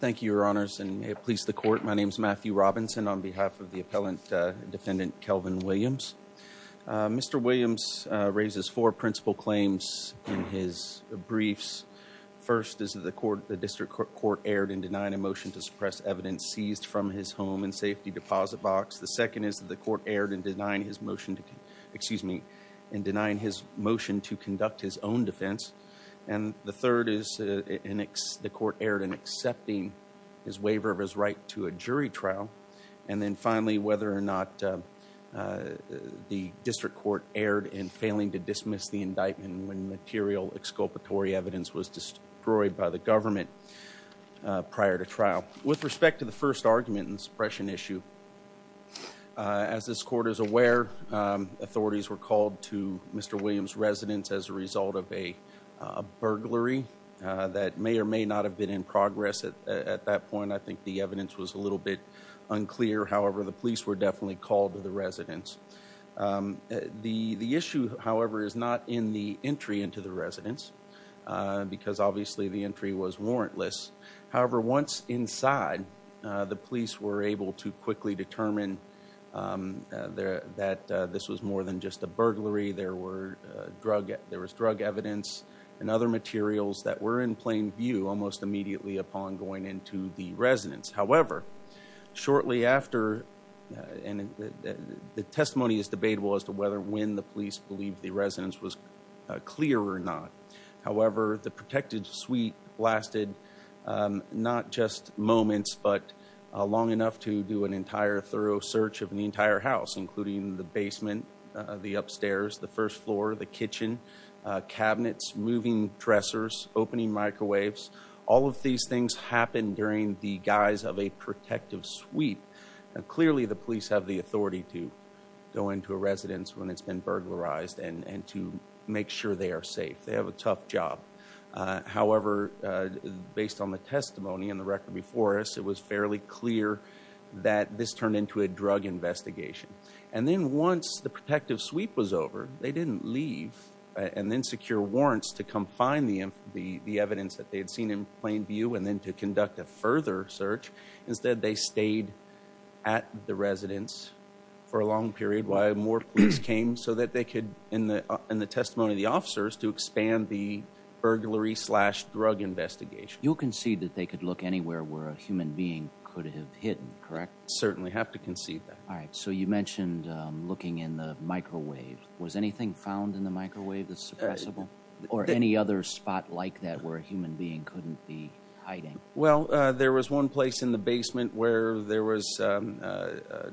Thank you, your honors, and may it please the court. My name is Matthew Robinson on behalf of the appellant defendant, Kelvin Williams. Mr. Williams raises four principal claims in his briefs. First is that the court, the district court, aired and denied a motion to suppress evidence seized from his home and safety deposit box. The second is that the court aired and denying his motion to, excuse me, in denying his motion to conduct his own defense. And the third is the court aired in accepting his waiver of his right to a jury trial. And then finally, whether or not the district court aired in failing to dismiss the indictment when material exculpatory evidence was destroyed by the government prior to trial. With respect to the first argument in the suppression issue, as this court is clear, authorities were called to Mr. Williams' residence as a result of a burglary that may or may not have been in progress at that point. I think the evidence was a little bit unclear. However, the police were definitely called to the residence. The issue, however, is not in the entry into the residence, because obviously the entry was warrantless. However, once inside, the police were able to quickly determine that this was more than just a burglary. There were drug, there was drug evidence and other materials that were in plain view almost immediately upon going into the residence. However, shortly after, and the testimony is debatable as to whether when the police believed the residence was clear or not. However, the protected suite lasted not just moments, but long enough to do an entire thorough search of the entire house, including the basement, the upstairs, the first floor, the kitchen, cabinets, moving dressers, opening microwaves. All of these things happen during the guise of a protective suite. Clearly, the police have the authority to go into a residence when it's been burglarized and to make sure they are safe. They have a tough job. However, based on the testimony and the record before us, it was fairly clear that this turned into a drug investigation. And then once the protective suite was over, they didn't leave and then secure warrants to come find the evidence that they had seen in plain view and then to conduct a further search. Instead, they stayed at the residence for a long period while more police came so that they could, in the testimony of the officers, to expand the burglary-slash-drug investigation. You concede that they could look anywhere where a human being could have hidden, correct? Certainly have to concede that. All right. So you mentioned looking in the microwave. Was anything found in the microwave that's suppressible or any other spot like that where a human being couldn't be hiding? Well, there was one place in the basement where there was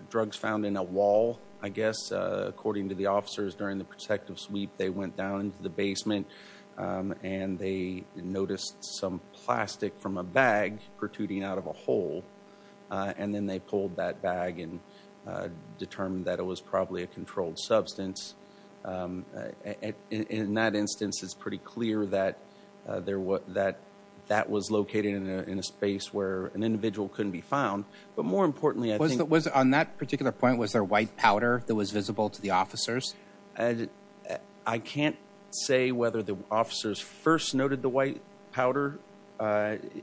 drugs found in a wall, I guess. According to the officers during the protective sweep, they went down into the basement and they noticed some plastic from a bag protruding out of a hole. And then they pulled that bag and determined that it was probably a controlled substance. In that instance, it's pretty clear that that was located in a space where an individual couldn't be found. But more importantly, I think- On that particular point, was there white powder that was visible to the officers? I can't say whether the officers first noted the white powder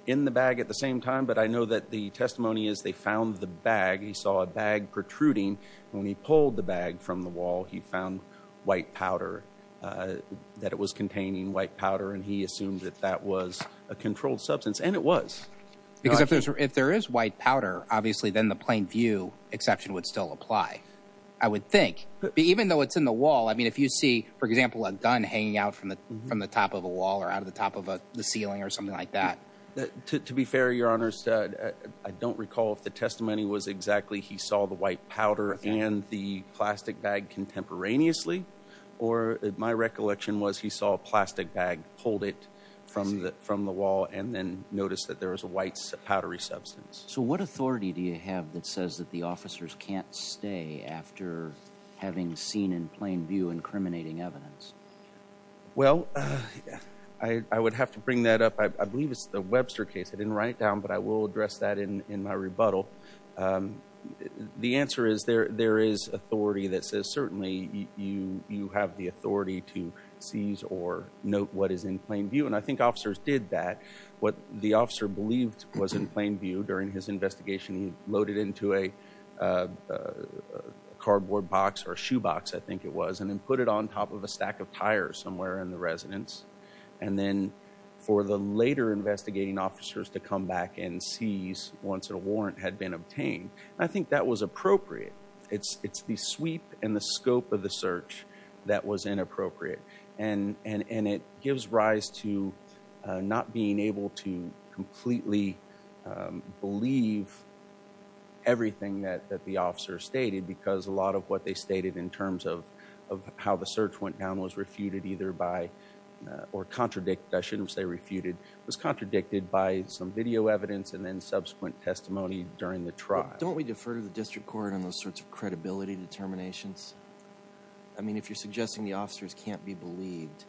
in the bag at the same time, but I know that the testimony is they found the bag. He saw a bag protruding. When he pulled the bag from the wall, he found white powder, that it was containing white powder, and he assumed that that was a controlled substance. And it was. Because if there is white powder, obviously, then the plain view exception would still apply, I would think. But even though it's in the wall, I mean, if you see, for example, a gun hanging out from the top of a wall or out of the top of the ceiling or something like that. To be fair, Your Honor, I don't recall if the testimony was exactly he saw the white powder and the plastic bag contemporaneously, or my recollection was he saw a plastic bag, pulled it from the wall, and then noticed that there was a white powdery substance. So what authority do you have that says that the officers can't stay after having seen in plain view incriminating evidence? Well, I would have to bring that up. I believe it's the Webster case. I didn't write it down, but I will address that in my rebuttal. The answer is there is authority that says certainly you have the authority to seize or note what is in plain view. And I think officers did that. What the officer believed was in plain view during his investigation, he loaded into a cardboard box or a shoe box, I think it was, and then put it on top of a stack of tires somewhere in the residence. And then for the later investigating officers to come back and seize once a warrant had been obtained, I think that was appropriate. It's the sweep and the scope of the search that was inappropriate. And it gives rise to not being able to completely believe everything that the officer stated, because a lot of what they stated in terms of how the search went down was refuted either by or contradict, I shouldn't say refuted, was contradicted by some video evidence and then subsequent testimony during the trial. Don't we defer to the district court on those sorts of credibility determinations? I mean, if you're suggesting the officers can't be believed.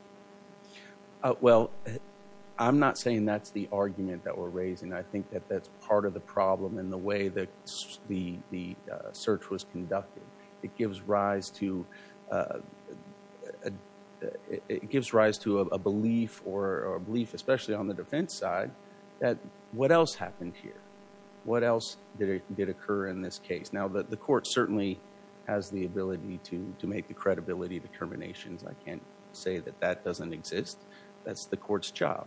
Well, I'm not saying that's the argument that we're raising. I think that that's part of the it gives rise to a belief or a belief, especially on the defense side, that what else happened here? What else did occur in this case? Now, the court certainly has the ability to make the credibility determinations. I can't say that that doesn't exist. That's the court's job.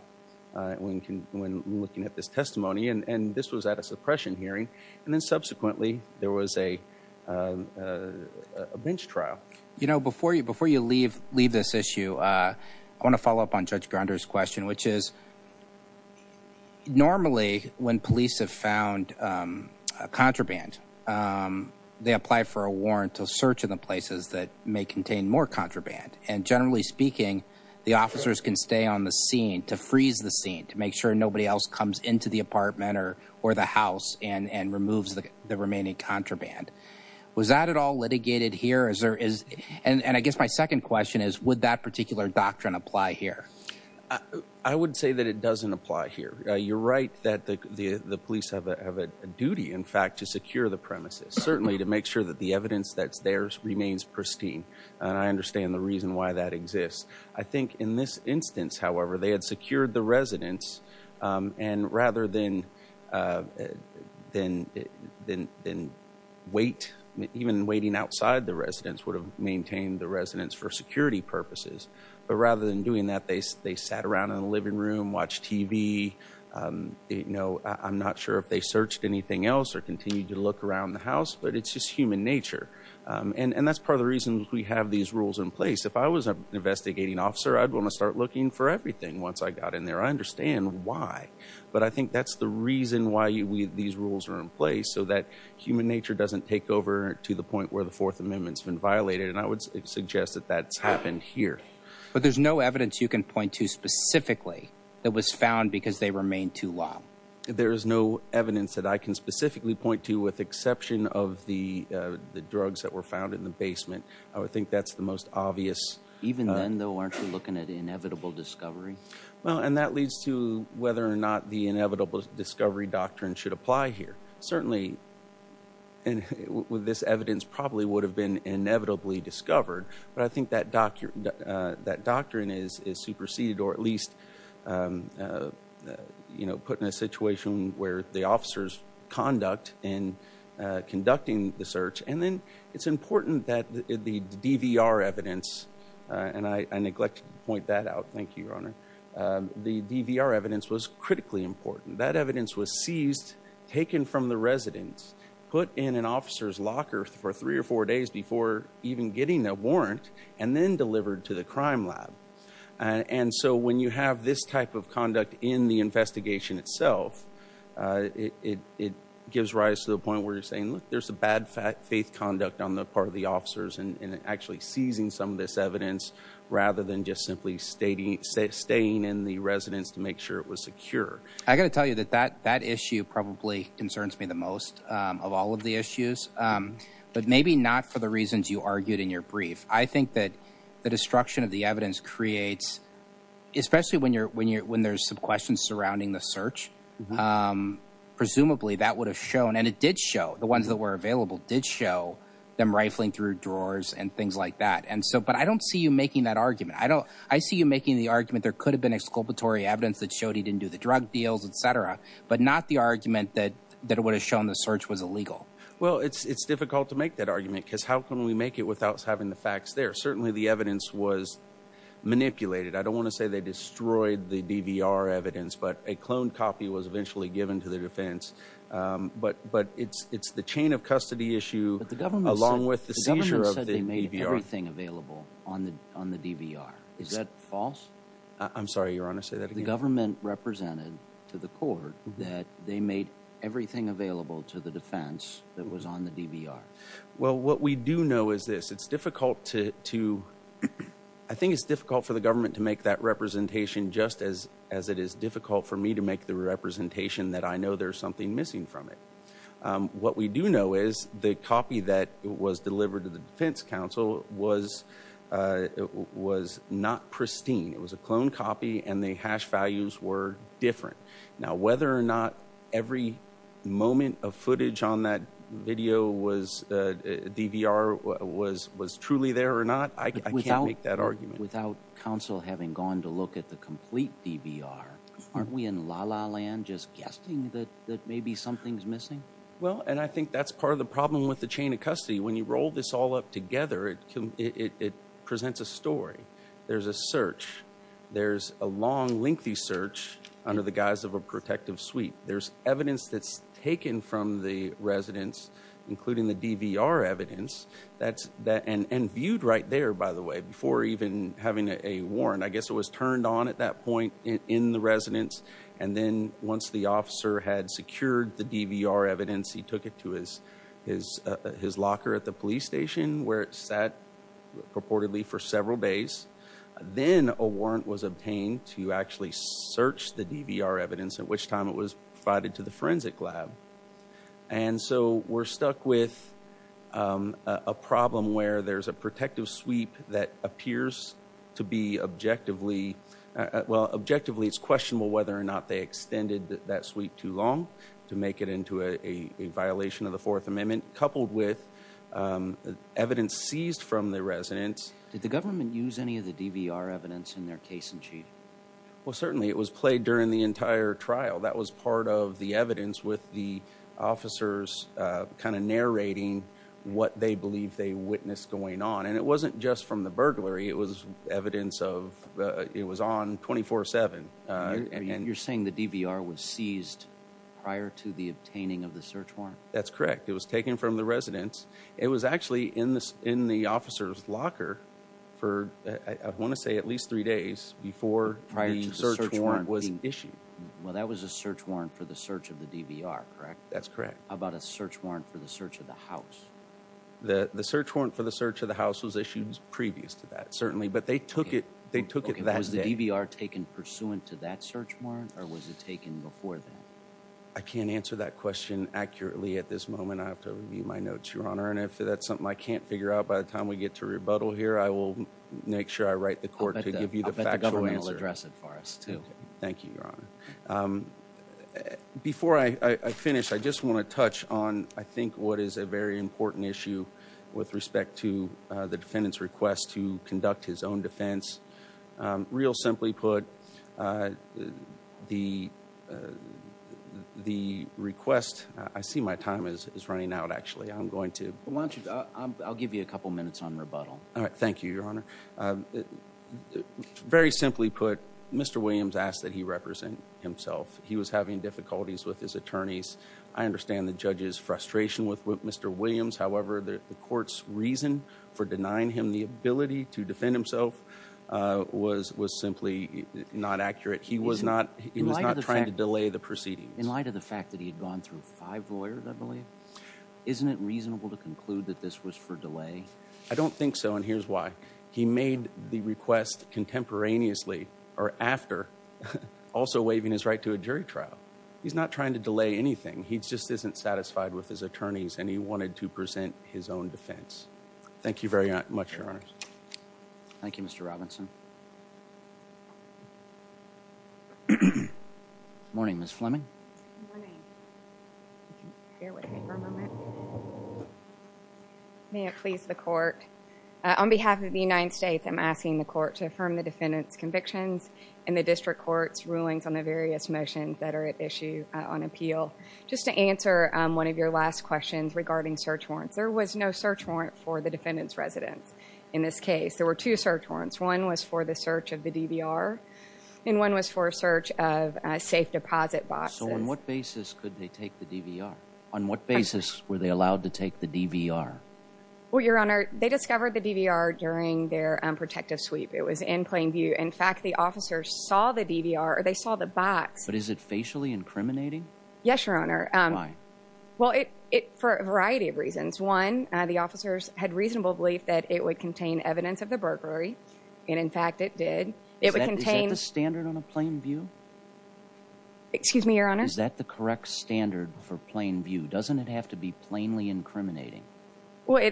When looking at this testimony, and this was at a suppression hearing, and then subsequently, there was a bench trial. You know, before you leave this issue, I want to follow up on Judge Grander's question, which is normally when police have found a contraband, they apply for a warrant to search in the places that may contain more contraband. And generally speaking, the officers can stay on the scene to freeze the scene to make sure nobody else comes into the apartment or the house and removes the remaining contraband. Was that at all litigated here? And I guess my second question is, would that particular doctrine apply here? I would say that it doesn't apply here. You're right that the police have a duty, in fact, to secure the premises, certainly to make sure that the evidence that's theirs remains pristine. And I understand the reason why that exists. I think that even waiting outside the residence would have maintained the residence for security purposes. But rather than doing that, they sat around in the living room, watched TV. I'm not sure if they searched anything else or continued to look around the house, but it's just human nature. And that's part of the reason we have these rules in place. If I was an investigating officer, I'd want to start looking for everything once I got in there. I understand why, but I think that's the reason why these rules are in place, so that human nature doesn't take over to the point where the Fourth Amendment's been violated. And I would suggest that that's happened here. But there's no evidence you can point to specifically that was found because they remained too long. There is no evidence that I can specifically point to with exception of the drugs that were found in the basement. I would think that's the most obvious. Even then, though, aren't you looking at inevitable discovery? Well, and that leads to whether or not the inevitable discovery doctrine should apply here. Certainly, this evidence probably would have been inevitably discovered. But I think that doctrine is superseded or at least put in a situation where the officers conduct in It's important that the DVR evidence, and I neglect to point that out, thank you, Your Honor. The DVR evidence was critically important. That evidence was seized, taken from the residence, put in an officer's locker for three or four days before even getting a warrant, and then delivered to the crime lab. And so when you have this type of conduct in the investigation itself, it gives rise to the point where you're saying, look, there's a bad faith conduct on the part of the officers in actually seizing some of this evidence rather than just simply staying in the residence to make sure it was secure. I got to tell you that that issue probably concerns me the most of all of the issues, but maybe not for the reasons you argued in your brief. I think that the destruction of the evidence creates, especially when there's some questions surrounding the search, um, presumably that would have shown, and it did show, the ones that were available did show them rifling through drawers and things like that. And so, but I don't see you making that argument. I don't, I see you making the argument there could have been exculpatory evidence that showed he didn't do the drug deals, et cetera, but not the argument that, that would have shown the search was illegal. Well, it's, it's difficult to make that argument because how can we make it without having the facts there? Certainly the evidence was manipulated. I don't want to say they destroyed the DVR evidence, but a clone copy was eventually given to the defense. Um, but, but it's, it's the chain of custody issue along with the seizure of the DVR. The government said they made everything available on the, on the DVR. Is that false? I'm sorry, Your Honor, say that again. The government represented to the court that they made everything available to the defense that was on the DVR. Well, what we do know is this, it's difficult to, to, I think it's difficult for the government to make that representation just as, as it is difficult for me to make the representation that I know there's something missing from it. Um, what we do know is the copy that was delivered to the defense council was, uh, was not pristine. It was a clone copy and the hash values were different. Now, whether or not every moment of footage on that video was, uh, was, was truly there or not, I can't make that argument. Without council having gone to look at the complete DVR, aren't we in la la land just guessing that, that maybe something's missing? Well, and I think that's part of the problem with the chain of custody. When you roll this all up together, it can, it, it presents a story. There's a search. There's a long lengthy search under the guise of a protective suite. There's evidence that's taken from the residents, including the DVR evidence that's that and viewed right there, by the way, before even having a warrant, I guess it was turned on at that point in the residents. And then once the officer had secured the DVR evidence, he took it to his, his, uh, his locker at the police station where it sat purportedly for several days. Then a warrant was obtained to actually search the DVR evidence at which time it was provided to the forensic lab. And so we're stuck with, um, uh, a problem where there's a protective sweep that appears to be objectively, uh, well, objectively it's questionable whether or not they extended that suite too long to make it into a, a violation of the fourth amendment coupled with, um, evidence seized from the residents. Did the government use any of the DVR evidence in their case in chief? Well, certainly it was played during the entire trial. That was part of the evidence with the officers, uh, kind of narrating what they believe they witnessed going on. And it wasn't just from the burglary. It was evidence of, uh, it was on 24 seven. Uh, and you're saying the DVR was seized prior to the obtaining of the search warrant. That's correct. It was taken from the residents. It was actually in the, in the officer's locker for, I want to at least three days before the search warrant was issued. Well, that was a search warrant for the search of the DVR, correct? That's correct. How about a search warrant for the search of the house? The search warrant for the search of the house was issued previous to that, certainly, but they took it, they took it that day. Was the DVR taken pursuant to that search warrant or was it taken before then? I can't answer that question accurately at this moment. I have to review my notes, your honor. And if that's something I can't figure out by the time we get to rebuttal here, I will make sure I write the court to give you the factual answer. I'll bet the government will address it for us too. Okay. Thank you, your honor. Um, before I, I finished, I just want to touch on, I think what is a very important issue with respect to, uh, the defendant's request to conduct his own defense. Um, real simply put, uh, the, uh, the request, uh, I see my time is, is running out. Actually, I'm going to, why don't you, I'll give you a couple minutes on rebuttal. All right. Thank you, your honor. Um, very simply put, Mr. Williams asked that he represent himself. He was having difficulties with his attorneys. I understand the judge's frustration with Mr. Williams. However, the court's reason for denying him the ability to defend himself, uh, was, was simply not accurate. He was not, he was not trying to delay the proceedings. In light of the fact that he had gone through five lawyers, I believe, isn't it reasonable to conclude that this was for delay? I don't think so. And here's why. He made the request contemporaneously or after also waiving his right to a jury trial. He's not trying to delay anything. He just isn't satisfied with his attorneys and he wanted to present his own defense. Thank you very much, your honor. Thank you, Mr. Robinson. Morning, Ms. Fleming. May it please the court. On behalf of the United States, I'm asking the court to affirm the defendant's convictions and the district court's rulings on the various motions that are at issue on appeal. Just to answer one of your last questions regarding search warrants, there was no search warrant for the defendant's residence. In this case, there were two search warrants. One was for the search of the DVR and one was for a search of a safe deposit box. So on what basis could they take the DVR? On what basis were they allowed to take the DVR? Well, your honor, they discovered the DVR during their, um, protective sweep. It was in plain view. In fact, the officers saw the DVR or they saw the box. But is it facially incriminating? Yes, a variety of reasons. One, the officers had reasonable belief that it would contain evidence of the burglary. And in fact, it did. It would contain... Is that the standard on a plain view? Excuse me, your honor? Is that the correct standard for plain view? Doesn't it have to be plainly incriminating? Well,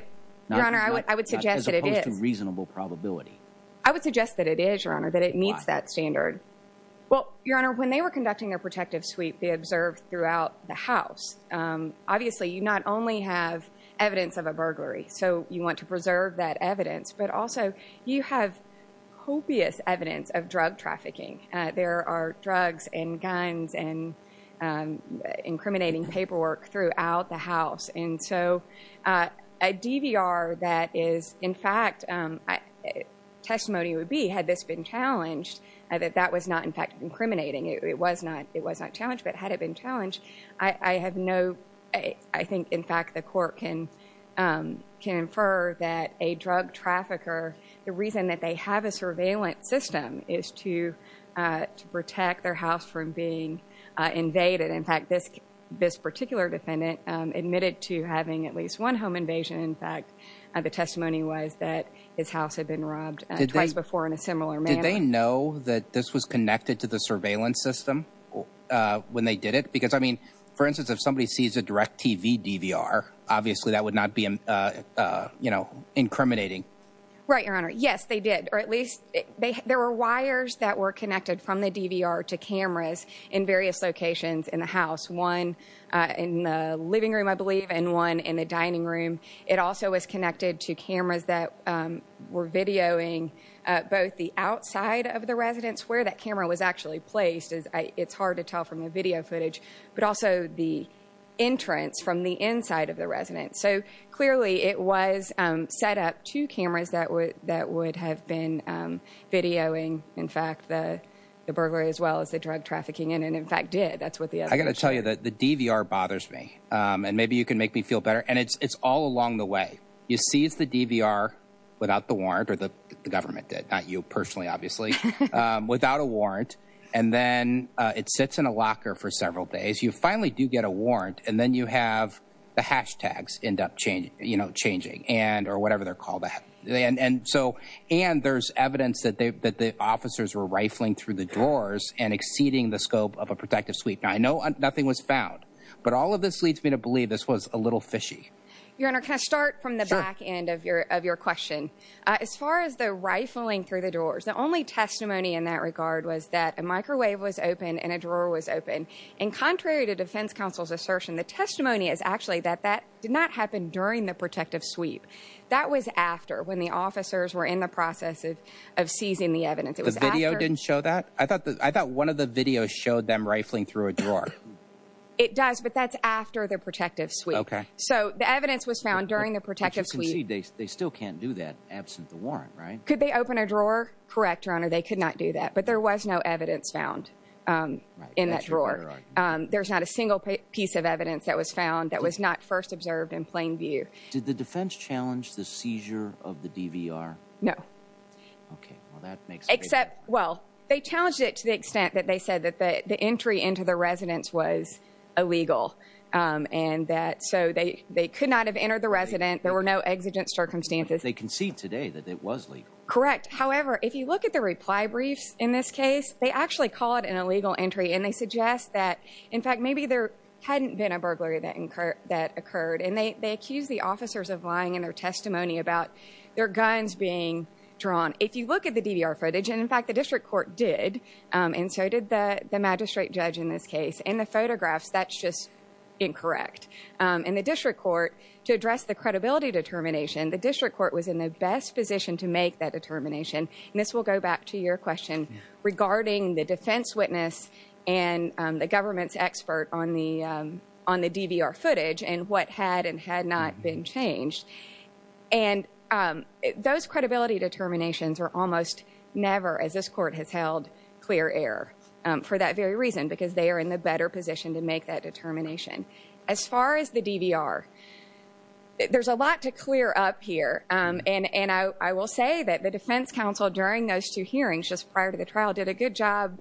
your honor, I would suggest that it is. As opposed to reasonable probability. I would suggest that it is, your honor, that it meets that standard. Well, your honor, when they were conducting their protective sweep, they observed throughout the house. Obviously, you not only have evidence of a burglary, so you want to preserve that evidence, but also you have copious evidence of drug trafficking. There are drugs and guns and incriminating paperwork throughout the house. And so a DVR that is, in fact, testimony would be, had this been challenged, that that was not, in fact, incriminating. It was not challenged, but had it been challenged, I have no... I think, in fact, the court can infer that a drug trafficker, the reason that they have a surveillance system is to protect their house from being invaded. In fact, this particular defendant admitted to having at least one home invasion. In fact, the testimony was that his house had been robbed twice before in similar manner. Did they know that this was connected to the surveillance system when they did it? Because I mean, for instance, if somebody sees a direct TV DVR, obviously that would not be incriminating. Right, your honor. Yes, they did. Or at least there were wires that were connected from the DVR to cameras in various locations in the house. One in the living room, I believe, and one in the dining room. It also was connected to cameras that were videoing both the outside of the residence, where that camera was actually placed, as it's hard to tell from the video footage, but also the entrance from the inside of the residence. So clearly it was set up two cameras that would have been videoing, in fact, the burglary as well as the drug trafficking, and in fact did. That's what the other... I got to tell you that the DVR bothers me, and maybe you can make me feel better, and it's all along the way. You seize the DVR, without the warrant, or the government did, not you personally, obviously, without a warrant, and then it sits in a locker for several days. You finally do get a warrant, and then you have the hashtags end up changing, or whatever they're called. And there's evidence that the officers were rifling through the drawers and exceeding the scope of a protective suite. I know nothing was found, but all of this leads me to believe this was a little fishy. Your honor, can I start from the back end of your question? As far as the rifling through the doors, the only testimony in that regard was that a microwave was open and a drawer was open, and contrary to defense counsel's assertion, the testimony is actually that that did not happen during the protective sweep. That was after, when the officers were in the process of seizing the evidence. The video didn't show that? I thought one of the videos showed them rifling through a drawer. It does, but that's after the protective sweep. Okay. So the evidence was found during the protective sweep. They still can't do that absent the warrant, right? Could they open a drawer? Correct, your honor, they could not do that, but there was no evidence found in that drawer. There's not a single piece of evidence that was found that was not first observed in plain view. Did the defense challenge the seizure of the DVR? No. Okay, well, that makes... Except, well, they challenged it to the extent that they was illegal, and that so they could not have entered the resident. There were no exigent circumstances. They concede today that it was legal. Correct. However, if you look at the reply briefs in this case, they actually call it an illegal entry, and they suggest that, in fact, maybe there hadn't been a burglary that occurred, and they accused the officers of lying in their testimony about their guns being drawn. If you look at the DVR footage, and in fact, the district court did, and so did the magistrate judge in this case, in the photographs, that's just incorrect. In the district court, to address the credibility determination, the district court was in the best position to make that determination, and this will go back to your question regarding the defense witness and the government's expert on the DVR footage and what had and had not been changed, and those credibility determinations are almost never, as this court has held, clear error for that very reason, because they are in the better position to make that determination. As far as the DVR, there's a lot to clear up here, and I will say that the defense counsel during those two hearings just prior to the trial did a good job,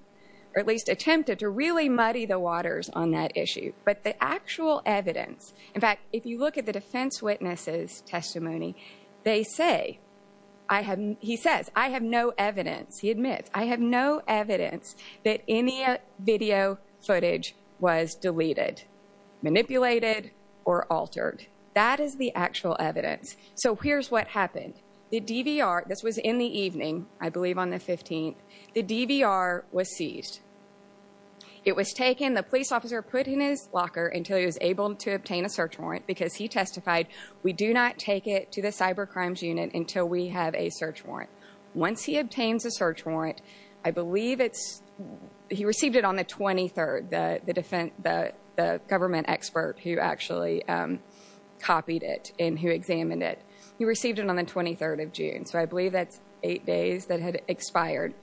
or at least attempted to really muddy the waters on that issue, but the actual evidence... In fact, if you look at the defense witness's testimony, they say, he says, I have no evidence, he admits, I have no evidence that any video footage was deleted, manipulated, or altered. That is the actual evidence, so here's what happened. The DVR, this was in the evening, I believe on the 15th, the DVR was seized. It was taken, the police officer put in his locker until he was able to obtain a search warrant because he testified, we do not take it to the cybercrimes unit until we have a search warrant. Once he obtains a search warrant, I believe it's... He received it on the 23rd, the government expert who actually copied it and who examined it. He received it on the 23rd of June, so I believe that's eight days that had expired.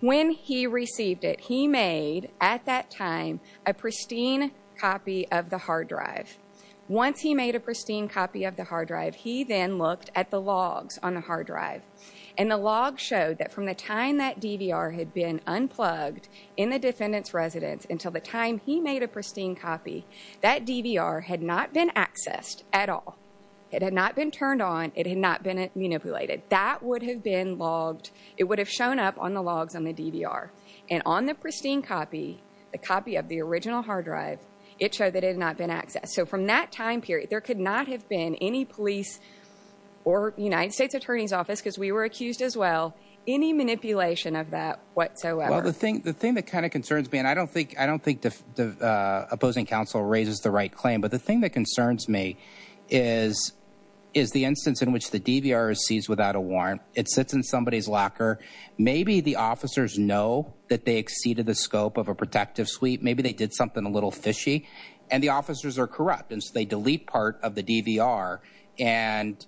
When he received it, he made, at that time, a pristine copy of the hard drive. He then looked at the logs on the hard drive, and the log showed that from the time that DVR had been unplugged in the defendant's residence until the time he made a pristine copy, that DVR had not been accessed at all. It had not been turned on. It had not been manipulated. That would have been logged. It would have shown up on the logs on the DVR, and on the pristine copy, the copy of the original hard drive, it showed that it had not been accessed, so from that time period, there could not have been any police or United States Attorney's Office, because we were accused as well, any manipulation of that whatsoever. Well, the thing that kind of concerns me, and I don't think the opposing counsel raises the right claim, but the thing that concerns me is the instance in which the DVR is seized without a warrant. It sits in somebody's locker. Maybe the officers know that they exceeded the scope of a protective suite. Maybe they did something a little fishy, and the officers are corrupt, and so they delete part of the DVR and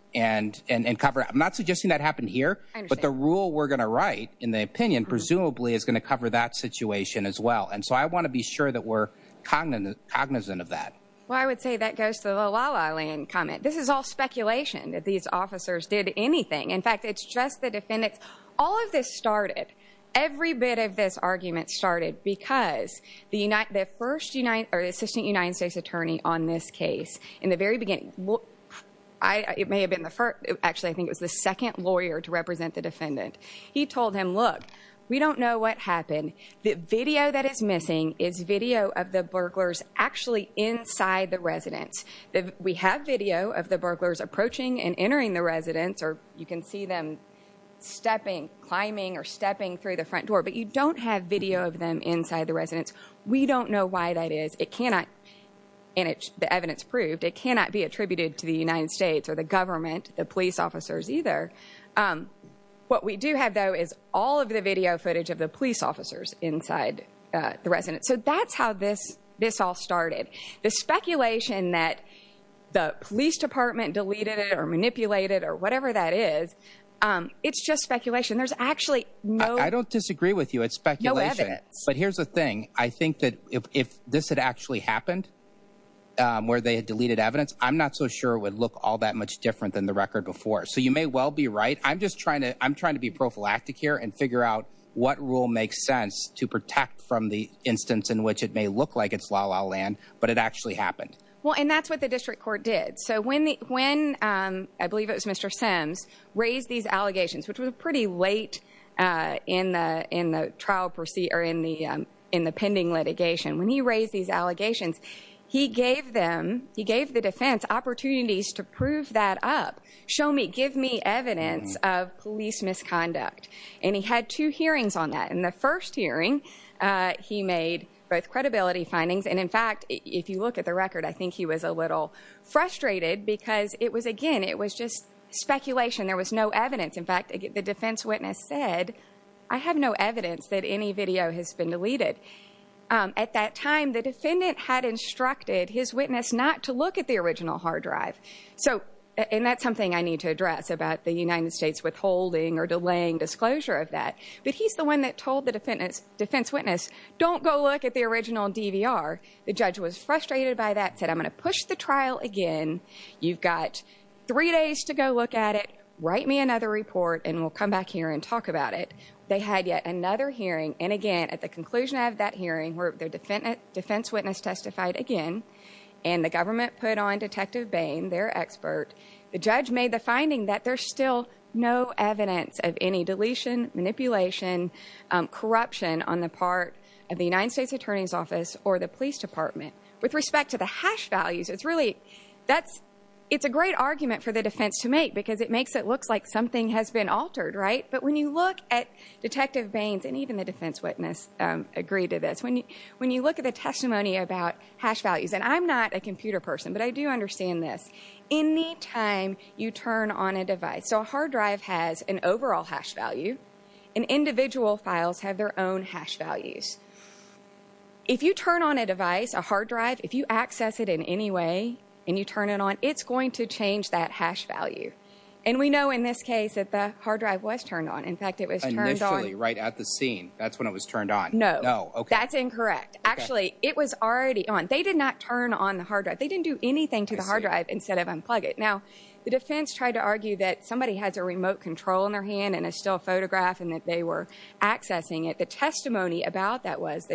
cover it. I'm not suggesting that happened here, but the rule we're going to write in the opinion presumably is going to cover that situation as well, and so I want to be sure that we're cognizant of that. Well, I would say that goes to the La La Land comment. This is all speculation that these officers did anything. In fact, it's just the defendants. All of this started, every bit of this argument started because the Assistant United States Attorney on this case in the very beginning, it may have been the first, actually I think it was the second lawyer to represent the defendant. He told him, look, we don't know what happened. The video that is missing is video of the burglars actually inside the residence. We have video of the burglars approaching and entering the residence, or you can see them stepping, climbing, or stepping through the front door, but you don't have video of them inside the residence. We don't know why that is. It cannot, and it's the evidence proved, it cannot be attributed to the United States or the government, the police officers either. What we do have, though, is all of the video footage of the police officers inside the residence, so that's how this all started. The speculation that the police department deleted it or manipulated it or whatever that is, it's just speculation. I don't disagree with you. It's speculation, but here's the thing. I think that if this had actually happened, where they had deleted evidence, I'm not so sure it would look all that much different than the record before. So you may well be right. I'm just trying to, I'm trying to be prophylactic here and figure out what rule makes sense to protect from the instance in which it may look like it's la-la land, but it actually happened. Well, and that's what the district court did. So when, I believe it was Mr. Sims, raised these allegations, which was pretty late in the trial, or in the pending litigation, when he raised these allegations, he gave them, he gave the defense opportunities to prove that up, show me, give me evidence of police misconduct, and he had two hearings on that. In the first hearing, he made both credibility findings, and in fact, if you look at the record, I think he was a little frustrated because it was, again, it was just speculation. There was no evidence. In fact, the defense witness said, I have no evidence that any video has been deleted. At that time, the defendant had instructed his witness not to look at the original hard drive. So, and that's something I need to address about the United States withholding or delaying disclosure of that, but he's the one that told the defense witness, don't go look at the original DVR. The judge was frustrated by that, said, I'm going to push the trial again. You've got three days to go look at it. Write me another report, and we'll come back here and talk about it. They had yet another hearing, and again, at the conclusion of that hearing, where the defense witness testified again, and the government put on Detective Bain, their expert, the judge made the finding that there's still no evidence of any deletion, manipulation, corruption on the part of the United States Attorney's Office or the police department. With respect to the hash values, it's really, that's, it's a great argument for the defense to make because it makes it look like something has been altered, right? But when you look at Detective Bain's, and even the defense witness agreed to this, when you look at the testimony about hash values, and I'm not a computer person, but I do understand this. Anytime you turn on a device, a hard drive, if you access it in any way, and you turn it on, it's going to change that hash value. And we know in this case that the hard drive was turned on. In fact, it was turned on. Initially, right at the scene, that's when it was turned on. No. No. Okay. That's incorrect. Actually, it was already on. They did not turn on the hard drive. They didn't do anything to the hard drive instead of unplug it. Now, the defense tried to argue that somebody has a remote control in their hand, and a still photograph, and that they were accessing it. The testimony about that was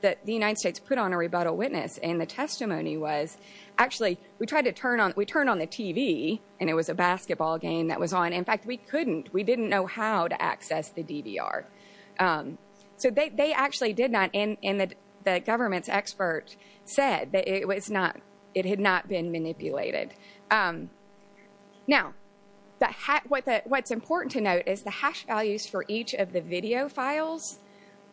that the United States put on a rebuttal witness, and the testimony was, actually, we tried to turn on, we turned on the TV, and it was a basketball game that was on. In fact, we couldn't. We didn't know how to access the DVR. So, they actually did not, and the government's manipulated. Now, what's important to note is the hash values for each of the video files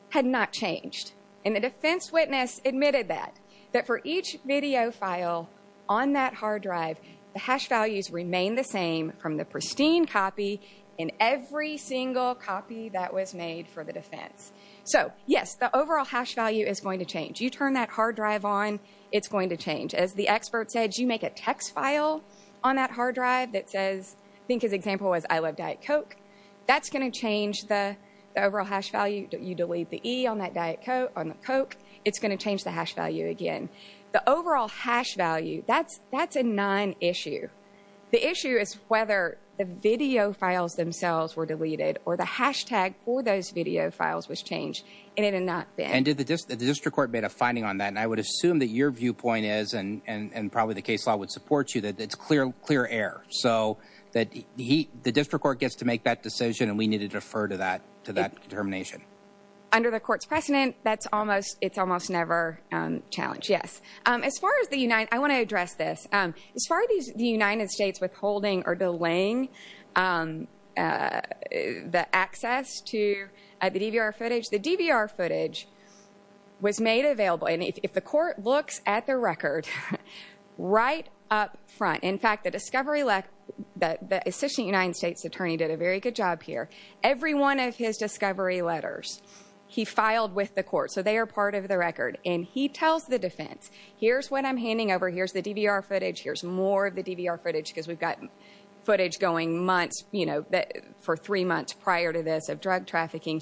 had not changed. And the defense witness admitted that, that for each video file on that hard drive, the hash values remain the same from the pristine copy in every single copy that was made for the defense. So, yes, the overall hash value is going to change. You turn that hard drive on, it's going to change. As the expert said, you make a text file on that hard drive that says, I think his example was, I love Diet Coke, that's going to change the overall hash value. You delete the E on that Diet Coke, it's going to change the hash value again. The overall hash value, that's a non-issue. The issue is whether the video files themselves were deleted, or the hashtag for those video files was changed, and it had not been. And did the district court made a viewpoint, and probably the case law would support you, that it's clear air. So, the district court gets to make that decision, and we need to defer to that determination. Under the court's precedent, that's almost, it's almost never challenged, yes. As far as the United, I want to address this. As far as the United States withholding or delaying the access to the DVR footage, the DVR footage was made available, and if the court looks at the record, right up front. In fact, the discovery, the assistant United States attorney did a very good job here. Every one of his discovery letters, he filed with the court, so they are part of the record. And he tells the defense, here's what I'm handing over, here's the DVR footage, here's more of the DVR footage, because we've got footage going months, you know, for three months prior to this of drug trafficking.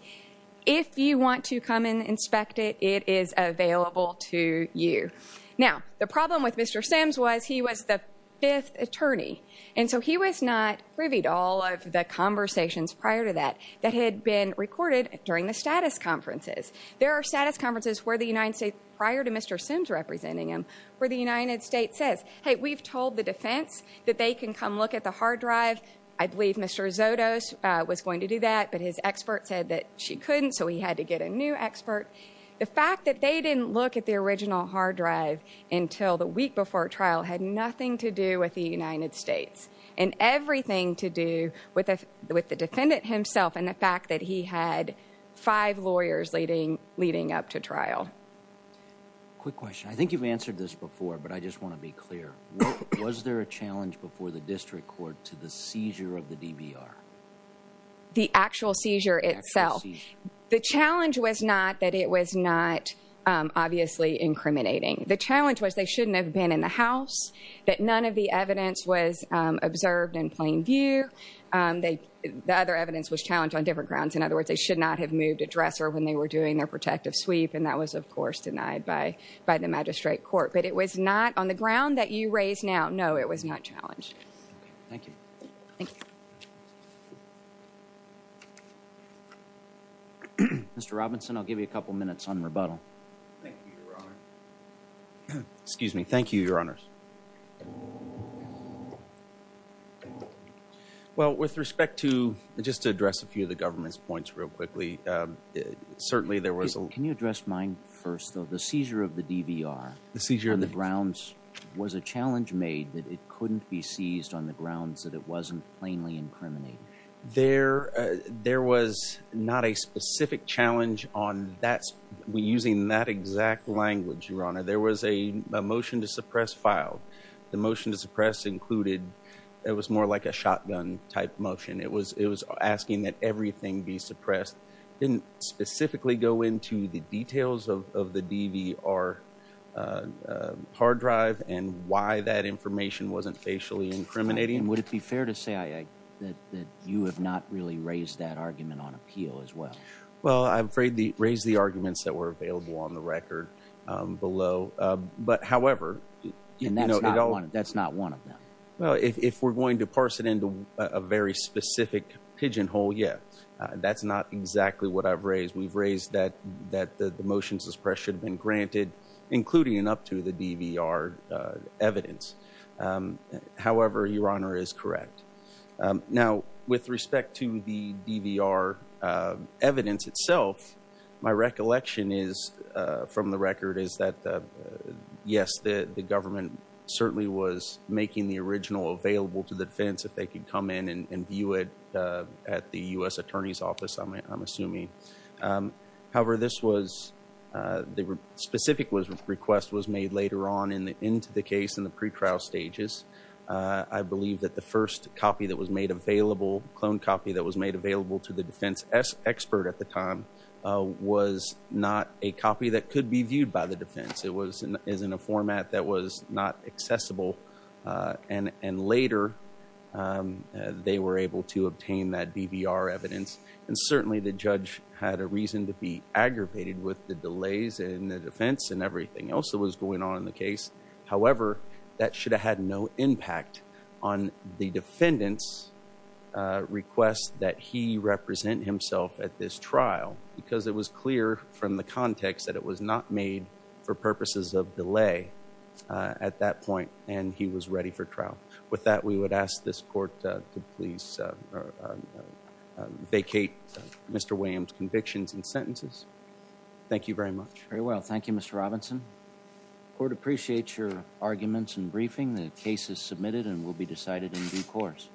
If you want to come and inspect it, it is available to you. Now, the problem with Mr. Sims was, he was the fifth attorney, and so he was not privy to all of the conversations prior to that, that had been recorded during the status conferences. There are status conferences where the United States, prior to Mr. Sims representing him, where the United States says, hey, we've told the defense that they can come look at the hard drive. I believe Mr. Zotos was going to do that, but his expert said she couldn't, so he had to get a new expert. The fact that they didn't look at the original hard drive until the week before trial had nothing to do with the United States, and everything to do with the defendant himself, and the fact that he had five lawyers leading up to trial. Quick question. I think you've answered this before, but I just want to be clear. Was there a challenge before the district court to the seizure of the DVR? The actual seizure itself. The challenge was not that it was not obviously incriminating. The challenge was they shouldn't have been in the house, that none of the evidence was observed in plain view. The other evidence was challenged on different grounds. In other words, they should not have moved a dresser when they were doing their protective sweep, and that was, of course, denied by the magistrate court. But it was not, on the ground that you raise now, it was not challenged. Thank you. Mr. Robinson, I'll give you a couple minutes on rebuttal. Excuse me. Thank you, Your Honors. Well, with respect to, just to address a few of the government's points real quickly, certainly there was a... Can you address mine first, though? The seizure of the DVR... There was a challenge made that it couldn't be seized on the grounds that it wasn't plainly incriminating. There was not a specific challenge on that... We're using that exact language, Your Honor. There was a motion to suppress file. The motion to suppress included... It was more like a shotgun-type motion. It was asking that everything be suppressed. Didn't specifically go into the details of the DVR hard drive and why that information wasn't facially incriminating. And would it be fair to say that you have not really raised that argument on appeal as well? Well, I'm afraid the raised the arguments that were available on the record below. But however... And that's not one of them. Well, if we're going to parse it into a very specific pigeonhole, yeah. That's not exactly what I've raised. We've raised that the motion to suppress should have been granted, including and up to the DVR evidence. However, Your Honor, it is correct. Now, with respect to the DVR evidence itself, my recollection is, from the record, is that yes, the government certainly was making the original available to the defense if they could come in and view it at the U.S. Attorney's Office, I'm assuming. However, this was... The specific request was made later on into the case in the pre-trial stages. I believe that the first copy that was made available, clone copy that was made available to the defense expert at the time, was not a copy that could be viewed by the defense. It was in a format that was not accessible. And later, they were able to obtain that DVR evidence. And certainly, the judge had a reason to be aggravated with the delays in the defense and everything else that was going on in the case. However, that should have had no impact on the defendant's request that he represent himself at this trial, because it was clear from the context that it was not made for purposes of delay at that point, and he was ready for trial. With that, we would ask this court to please vacate Mr. Williams' convictions and sentences. Thank you very much. Very well. Thank you, Mr. Robinson. Court appreciates your arguments and briefing. The case is submitted and will be decided in due course.